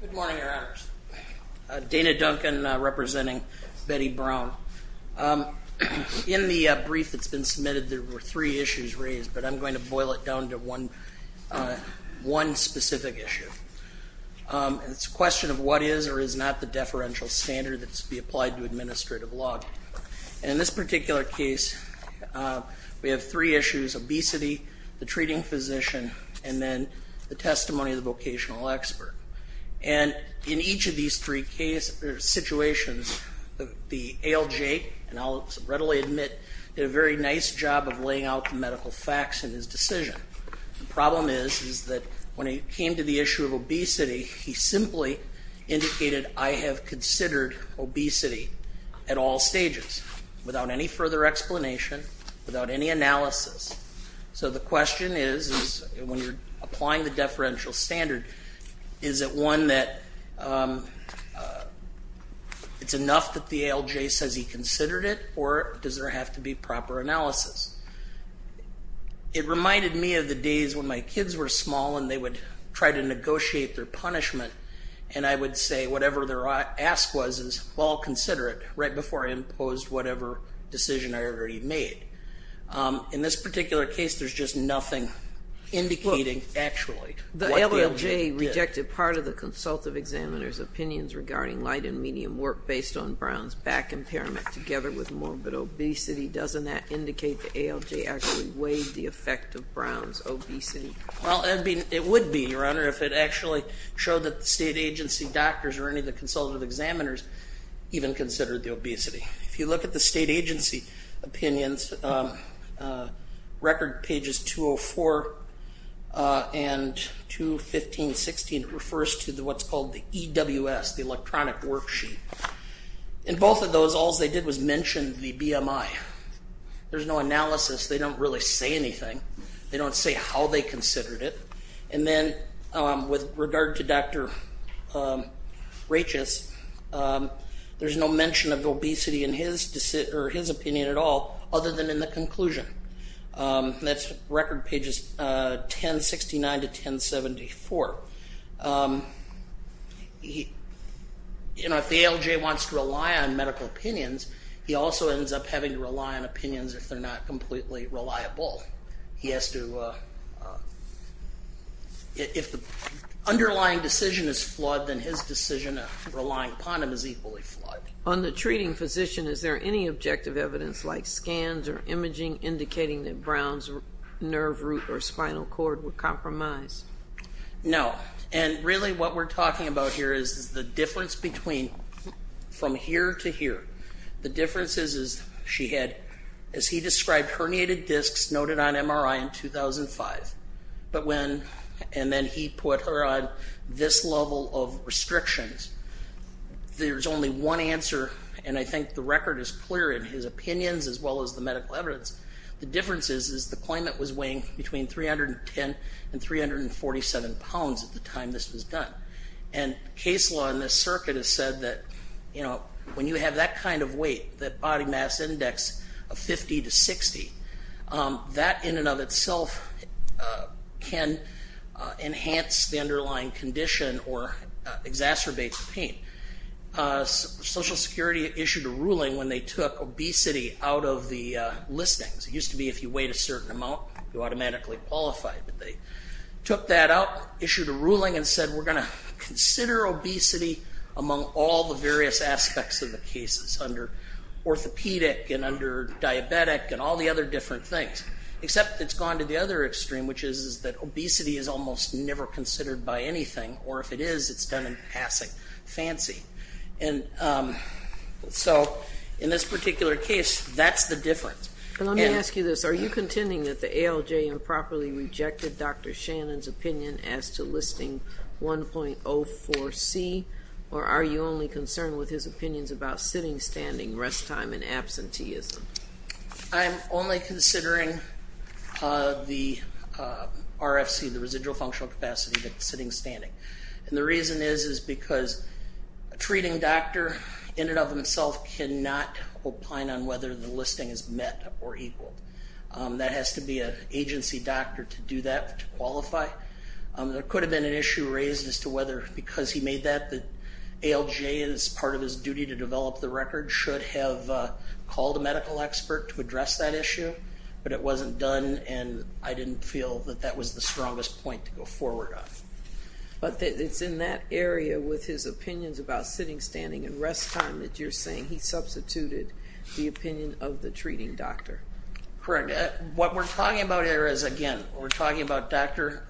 Good morning, Your Honors. Dana Duncan, representing Betty Brown. In the brief that's been submitted, there were three issues raised, but I'm going to boil it down to one specific issue, and it's a question of what is or is not the deferential standard that should be applied to administrative law. And in this particular case, we have three issues, obesity, the treating physician, and then the testimony of the vocational expert. And in each of these three situations, the ALJ, and I'll readily admit, did a very nice job of laying out the medical facts in his decision. The problem is is that when he came to the issue of obesity, he simply indicated, I have considered obesity at all stages without any further explanation, without any analysis. So the question is, when you're applying the deferential standard, is it one that it's enough that the ALJ says he considered it, or does there have to be proper analysis? It reminded me of the days when my kids were small, and they would try to negotiate their punishment, and I would say whatever their ask was is, well, consider it, right before I imposed whatever decision I already made. In this particular case, there's just nothing indicating actually what the ALJ did. The ALJ rejected part of the consultative examiner's opinions regarding light and medium work based on Brown's back impairment together with morbid obesity. Doesn't that indicate the ALJ actually weighed the effect of Brown's obesity? Well, it would be, Your Honor, if it actually showed that the state agency doctors or any of the consultative examiners even considered the obesity. If you look at the state agency opinions, record pages 204 and 215-16, it refers to what's called the EWS, the electronic worksheet. In both of those, all they did was mention the BMI. There's no analysis. They don't really say anything. They don't say how they considered it. And then, with regard to Dr. Rachis, there's no mention of obesity in his opinion at all, other than in the conclusion. That's record pages 1069-1074. If the ALJ wants to rely on medical opinions, he also ends up having to rely on opinions if they're not completely reliable. If the underlying decision is flawed, then his decision of relying upon him is equally flawed. On the treating physician, is there any objective evidence like scans or imaging indicating that Brown's nerve root or spinal cord were compromised? No. And really what we're talking about here is the difference between from here to here. The difference is she had, as he described, herniated discs noted on MRI in 2005. But when, and then he put her on this level of restrictions, there's only one answer. And I think the record is clear in his opinions, as well as the medical evidence. The difference is, is the claimant was weighing between 310 and 347 pounds at the time this was done. And case law in this circuit has said that, you know, when you have that kind of weight, that or exacerbates the pain. Social Security issued a ruling when they took obesity out of the listings. It used to be if you weighed a certain amount, you automatically qualified. But they took that out, issued a ruling and said, we're going to consider obesity among all the various aspects of the cases under orthopedic and under diabetic and all the other different things. Except it's gone to the other extreme, which is that obesity is almost never considered by anything. Or if it is, it's done in passing. Fancy. And so, in this particular case, that's the difference. And let me ask you this. Are you contending that the ALJ improperly rejected Dr. Shannon's opinion as to listing 1.04C? Or are you only concerned with his opinions about sitting, standing, rest time and absenteeism? I'm only considering the RFC, the residual functional capacity, but sitting, standing. And the reason is, is because a treating doctor in and of himself cannot opine on whether the listing is met or equal. That has to be an agency doctor to do that, to qualify. There could have been an issue raised as to whether, because he made that, that ALJ, as part of his duty to develop the record, should have called a medical expert to address that issue. But it wasn't done, and I didn't feel that that was the strongest point to go forward on. But it's in that area, with his opinions about sitting, standing and rest time, that you're saying he substituted the opinion of the treating doctor. Correct. What we're talking about here is, again, we're talking about Dr.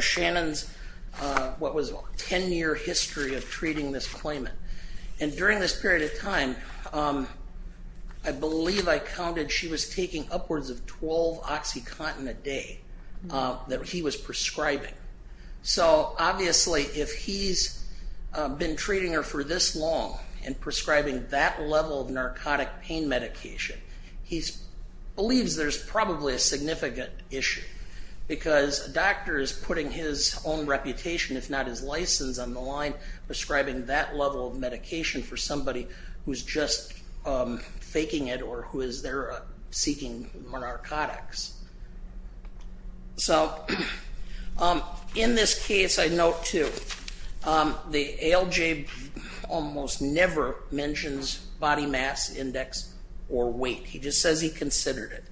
Shannon's, what was a 10-year history of treating this claimant. And during this period of time, I believe I counted she was taking upwards of 12 OxyContin a day that he was prescribing. So obviously, if he's been treating her for this long and prescribing that level of narcotic pain medication, he believes there's probably a significant issue. Because a doctor is putting his own reputation, if not his license, on the line prescribing that level of medication for somebody who's just faking it or who is there seeking narcotics. So, in this case, I note too, the ALJ almost never mentions body mass index or weight. He just says he considered it.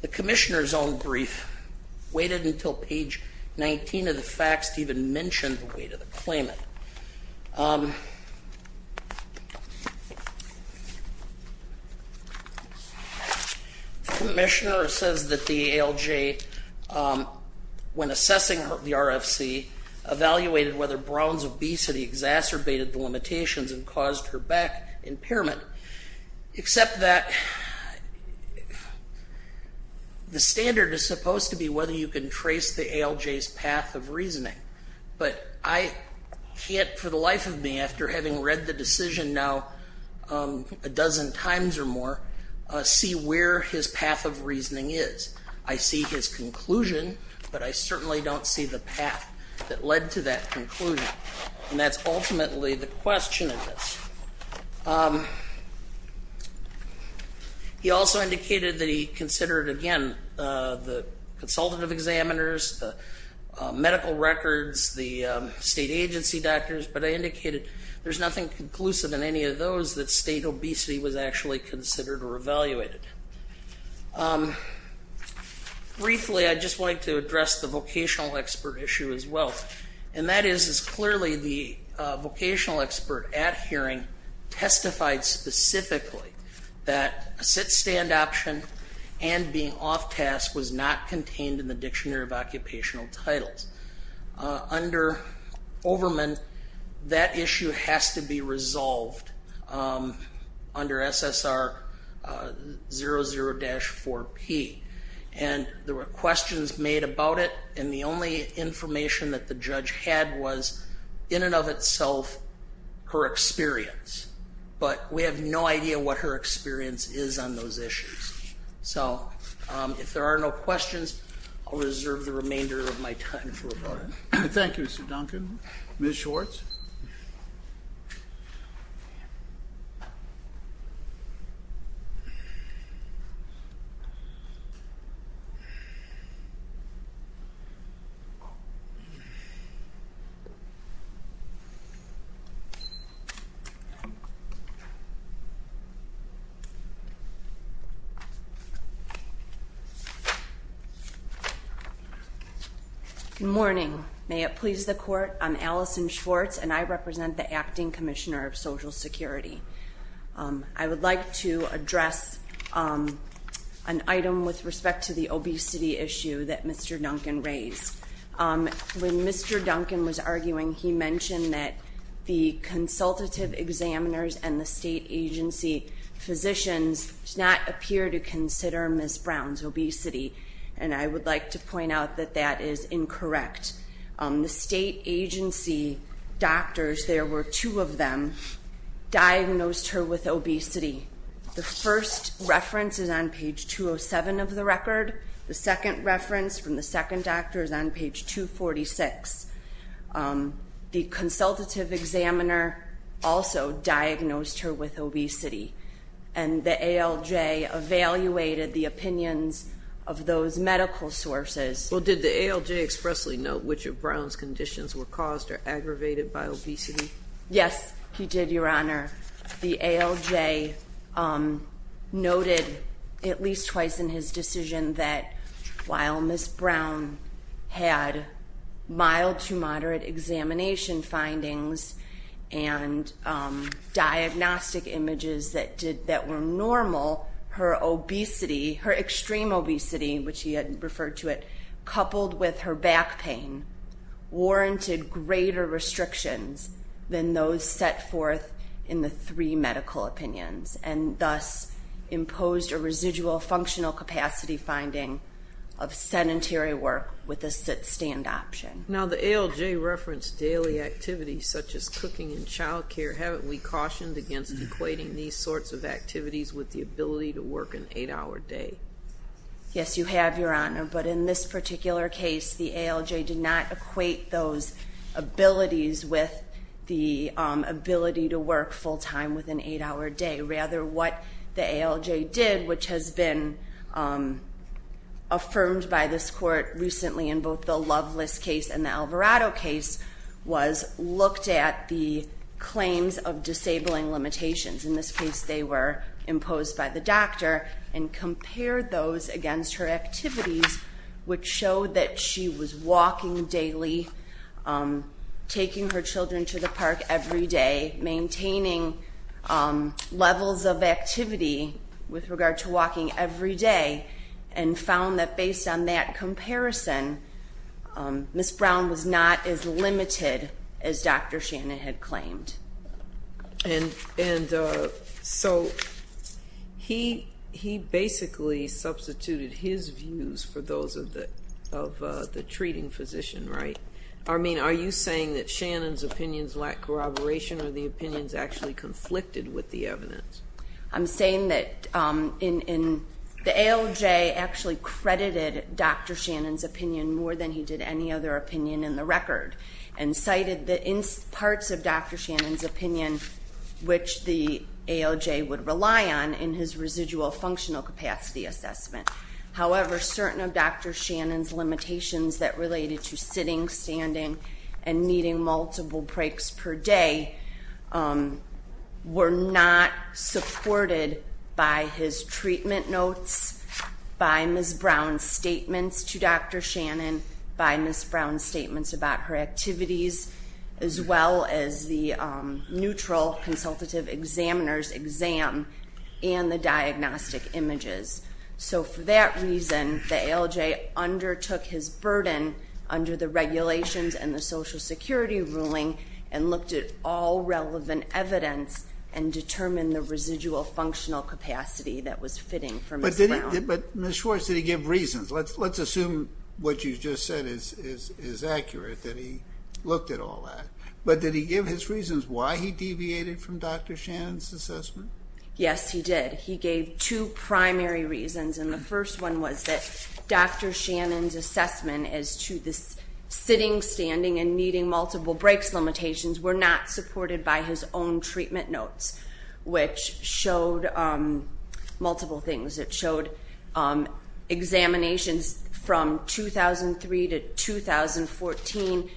The commissioner's own brief waited until page 19 of the facts even mentioned the weight of the claimant. The commissioner says that the ALJ, when assessing the RFC, evaluated whether Brown's obesity exacerbated the limitations and caused her back impairment. Except that the standard is supposed to be whether you can trace the ALJ's path of reasoning. But I can't, for the life of me, after having read the decision now a dozen times or more, see where his path of reasoning is. I see his conclusion, but I certainly don't see the path that led to that conclusion. And that's ultimately the question of this. He also indicated that he considered, again, the consultative examiners, the medical records, the state agency doctors, but I indicated there's nothing conclusive in any of those that state obesity was actually considered or evaluated. Briefly, I just wanted to address the vocational expert issue as well. And that is, is clearly the vocational expert at hearing testified specifically that a sit-stand option and being off task was not contained in the dictionary of occupational titles. Under Overman, that issue has to be resolved. Under SSR 00-4P. And there were questions made about it, and the only information that the judge had was, in and of itself, her experience. But we have no idea what her experience is on those issues. So, if there are no questions, I'll reserve the remainder of my time for about it. Thank you, Mr. Duncan. Ms. Schwartz? Thank you. Good morning. I'm Allison Schwartz, and I represent the Acting Commissioner of Social Security. I would like to address an item with respect to the obesity issue that Mr. Duncan raised. When Mr. Duncan was arguing, he mentioned that the consultative examiners and the state agency physicians did not appear to consider Ms. Brown's obesity. And I would like to point out that that is incorrect. The state agency doctors, there were two of them, diagnosed her with obesity. The first reference is on page 207 of the record. The second reference from the second doctor is on page 246. The consultative examiner also diagnosed her with obesity. And the ALJ evaluated the opinions of those medical sources. Well, did the ALJ expressly note which of Brown's conditions were caused or aggravated by obesity? Yes, he did, Your Honor. The ALJ noted at least twice in his decision that while Ms. Brown had mild to moderate examination findings and diagnostic images that were normal, her obesity, her extreme obesity, which he had referred to it, coupled with her back pain, warranted greater restrictions than those set forth in the three medical opinions. And thus, imposed a residual functional capacity finding of sedentary work with a sit-stand option. Now, the ALJ referenced daily activities such as cooking and childcare. Haven't we cautioned against equating these sorts of activities with the ability to work an eight hour day? Yes, you have, Your Honor. But in this particular case, the ALJ did not equate those abilities with the ability to work full time with an eight hour day. Rather, what the ALJ did, which has been affirmed by this court recently in both the Loveless case and the Alvarado case, was looked at the claims of disabling limitations. In this case, they were imposed by the doctor and compared those against her activities, which showed that she was walking daily, taking her children to the park every day, maintaining levels of activity with regard to walking every day. And found that based on that comparison, Ms. Brown was not as limited as Dr. Shannon had claimed. And so, he basically substituted his views for those of the treating physician, right? I mean, are you saying that Shannon's opinions lack corroboration or the opinions actually conflicted with the evidence? I'm saying that the ALJ actually credited Dr. Shannon's opinion more than he did any other opinion in the record. And cited the parts of Dr. Shannon's opinion, which the ALJ would rely on in his residual functional capacity assessment. However, certain of Dr. Shannon's limitations that related to sitting, standing, and needing multiple breaks per day, were not supported by his treatment notes, by Ms. Brown's statements to Dr. Shannon, by Ms. Brown's statements about her activities. As well as the neutral consultative examiner's exam and the diagnostic images. So for that reason, the ALJ undertook his burden under the regulations and the Social Security ruling and looked at all relevant evidence and determined the residual functional capacity that was fitting for Ms. Brown. But Ms. Schwartz, did he give reasons? Let's assume what you just said is accurate, that he looked at all that. But did he give his reasons why he deviated from Dr. Shannon's assessment? Yes, he did. He gave two primary reasons. And the first one was that Dr. Shannon's assessment as to the sitting, standing, and needing multiple breaks limitations were not supported by his own treatment notes. Which showed multiple things. It showed examinations from 2003 to 2014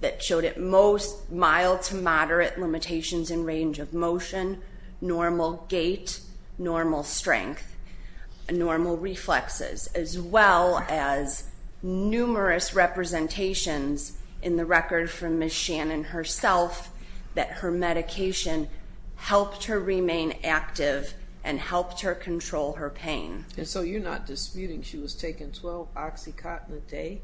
that showed at most mild to moderate limitations in range of motion, normal gait, normal strength, and normal reflexes. As well as numerous representations in the record from Ms. Shannon herself that her medication helped her remain active and helped her control her pain. And so you're not disputing she was taking 12 OxyContin a day?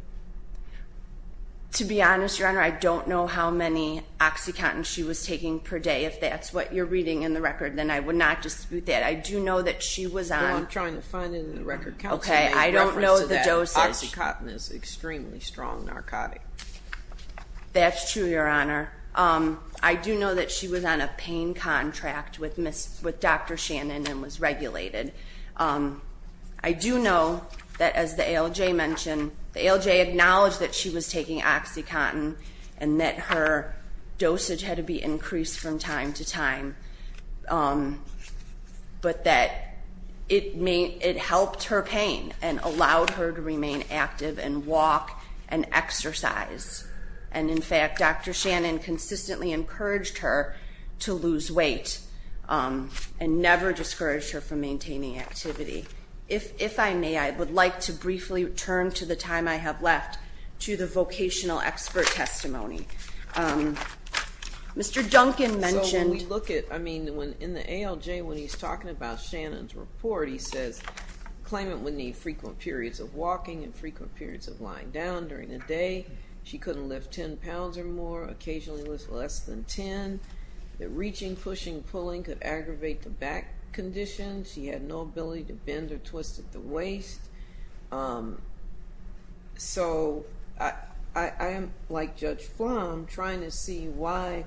To be honest, Your Honor, I don't know how many OxyContin she was taking per day. If that's what you're reading in the record, then I would not dispute that. I do know that she was on- Well, I'm trying to find it in the record count today. I don't know the dosage. OxyContin is extremely strong narcotic. That's true, Your Honor. I do know that she was on a pain contract with Dr. Shannon and was regulated. I do know that as the ALJ mentioned, the ALJ acknowledged that she was taking OxyContin. And that her dosage had to be increased from time to time. But that it helped her pain and allowed her to remain active and walk and exercise. And in fact, Dr. Shannon consistently encouraged her to lose weight and never discouraged her from maintaining activity. If I may, I would like to briefly return to the time I have left to the vocational expert testimony. Mr. Duncan mentioned- So when we look at, I mean, in the ALJ when he's talking about Shannon's report, he says, claimant would need frequent periods of walking and frequent periods of lying down during the day. She couldn't lift 10 pounds or more, occasionally less than 10. The reaching, pushing, pulling could aggravate the back condition. So I am, like Judge Flom, trying to see why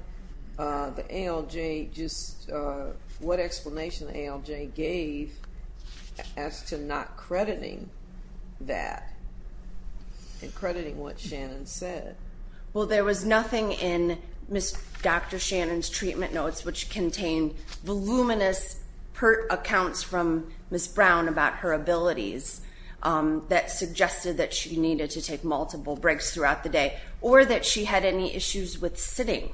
the ALJ just, what explanation the ALJ gave as to not crediting that and crediting what Shannon said. Well, there was nothing in Ms. Dr. Shannon's treatment notes which contained voluminous PERT accounts from Ms. Brown about her abilities that suggested that she needed to take multiple breaks throughout the day or that she had any issues with sitting.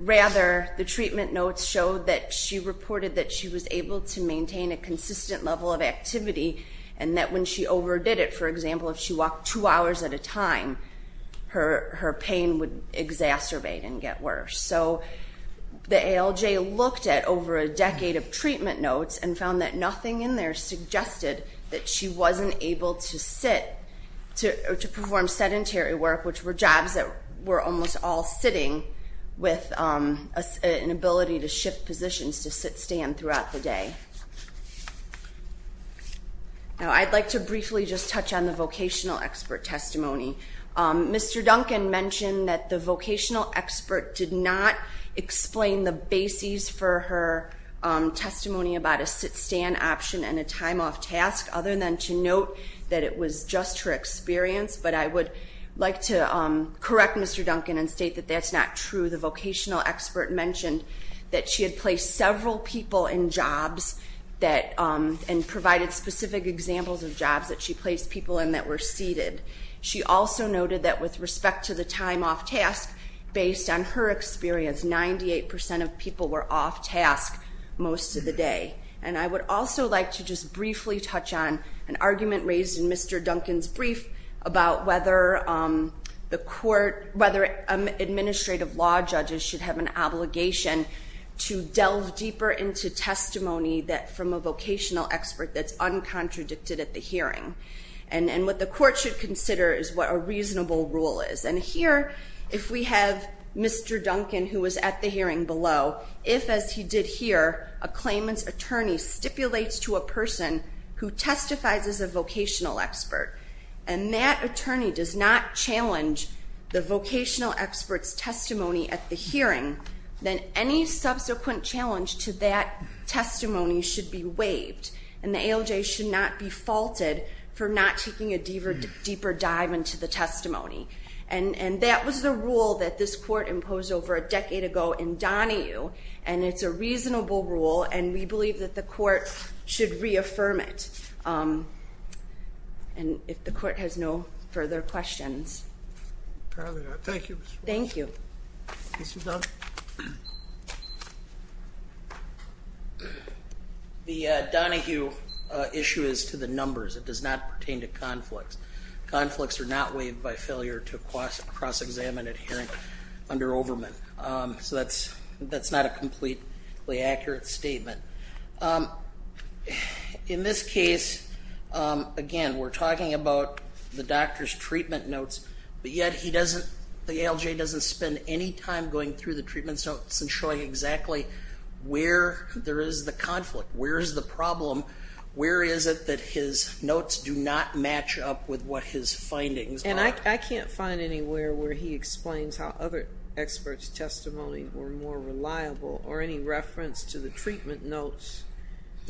Rather, the treatment notes showed that she reported that she was able to maintain a consistent level of activity. And that when she overdid it, for example, if she walked two hours at a time, her pain would exacerbate and get worse. So the ALJ looked at over a decade of treatment notes and found that nothing in there suggested that she wasn't able to sit or to perform sedentary work, which were jobs that were almost all sitting with an ability to shift positions to sit, stand throughout the day. Now, I'd like to briefly just touch on the vocational expert testimony. Mr. Duncan mentioned that the vocational expert did not explain the bases for her testimony about a sit-stand option and a time off task, other than to note that it was just her experience. But I would like to correct Mr. Duncan and state that that's not true. The vocational expert mentioned that she had placed several people in jobs and provided specific examples of jobs that she placed people in that were seated. She also noted that with respect to the time off task, based on her experience, 98% of people were off task most of the day. And I would also like to just briefly touch on an argument raised in Mr. Duncan's brief about whether administrative law judges should have an obligation to delve deeper into testimony from a vocational expert that's uncontradicted at the hearing. And what the court should consider is what a reasonable rule is. And here, if we have Mr. Duncan, who was at the hearing below, if, as he did here, a claimant's attorney stipulates to a person who testifies as a vocational expert. And that attorney does not challenge the vocational expert's testimony at the hearing, then any subsequent challenge to that testimony should be waived. And the ALJ should not be faulted for not taking a deeper dive into the testimony. And that was the rule that this court imposed over a decade ago in Donahue. And it's a reasonable rule, and we believe that the court should reaffirm it. And if the court has no further questions. Thank you. Thank you. Mr. Dunn? The Donahue issue is to the numbers. It does not pertain to conflicts. Conflicts are not waived by failure to cross-examine an adherent under Overman. So that's not a completely accurate statement. In this case, again, we're talking about the doctor's treatment notes. But yet he doesn't, the ALJ doesn't spend any time going through the treatment notes and showing exactly where there is the conflict, where is the problem, where is it that his notes do not match up with what his findings are. And I can't find anywhere where he explains how other experts' testimony were more reliable, or any reference to the treatment notes.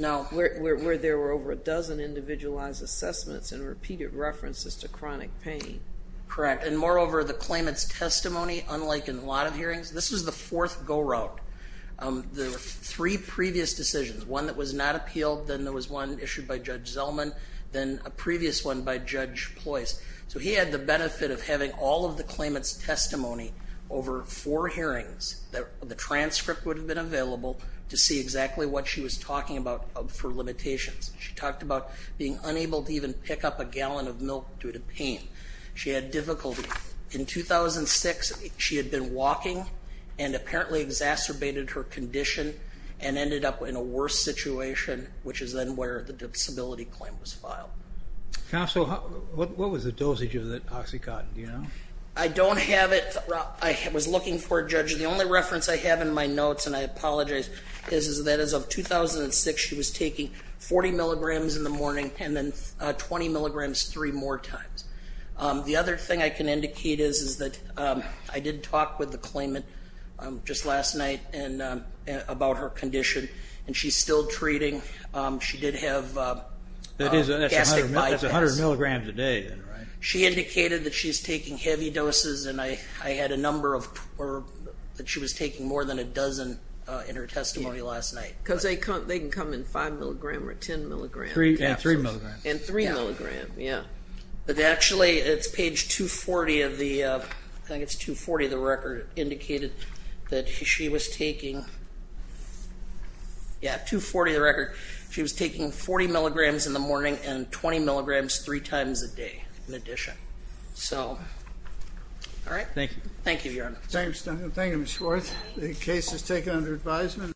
No. Where there were over a dozen individualized assessments and repeated references to chronic pain. Correct. And moreover, the claimant's testimony, unlike in a lot of hearings, this was the fourth go-round. There were three previous decisions. One that was not appealed, then there was one issued by Judge Zellman, then a previous one by Judge Ploys. So he had the benefit of having all of the claimant's testimony over four hearings. The transcript would have been available to see exactly what she was talking about for limitations. She talked about being unable to even pick up a gallon of milk due to pain. She had difficulty. In 2006, she had been walking and apparently exacerbated her condition and ended up in a worse situation, which is then where the disability claim was filed. Counsel, what was the dosage of that OxyContin, do you know? I don't have it. I was looking for it, Judge. The only reference I have in my notes, and I apologize, is that as of 2006, she was taking 40 milligrams in the morning, and then 20 milligrams three more times. The other thing I can indicate is that I did talk with the claimant just last night about her condition, and she's still treating. She did have a gastric bypass. That's 100 milligrams a day, right? She indicated that she's taking heavy doses, and I had a number of, or that she was taking more than a dozen in her testimony last night. Because they can come in 5 milligram or 10 milligram capsules. And 3 milligrams. And 3 milligram, yeah. But actually, it's page 240 of the, I think it's 240 of the record, indicated that she was taking, yeah, 240 of the record. She was taking 40 milligrams in the morning and 20 milligrams three times a day in addition. So, all right. Thank you. Thank you, Your Honor. Thank you, Ms. Schwartz. The case is taken under advisement.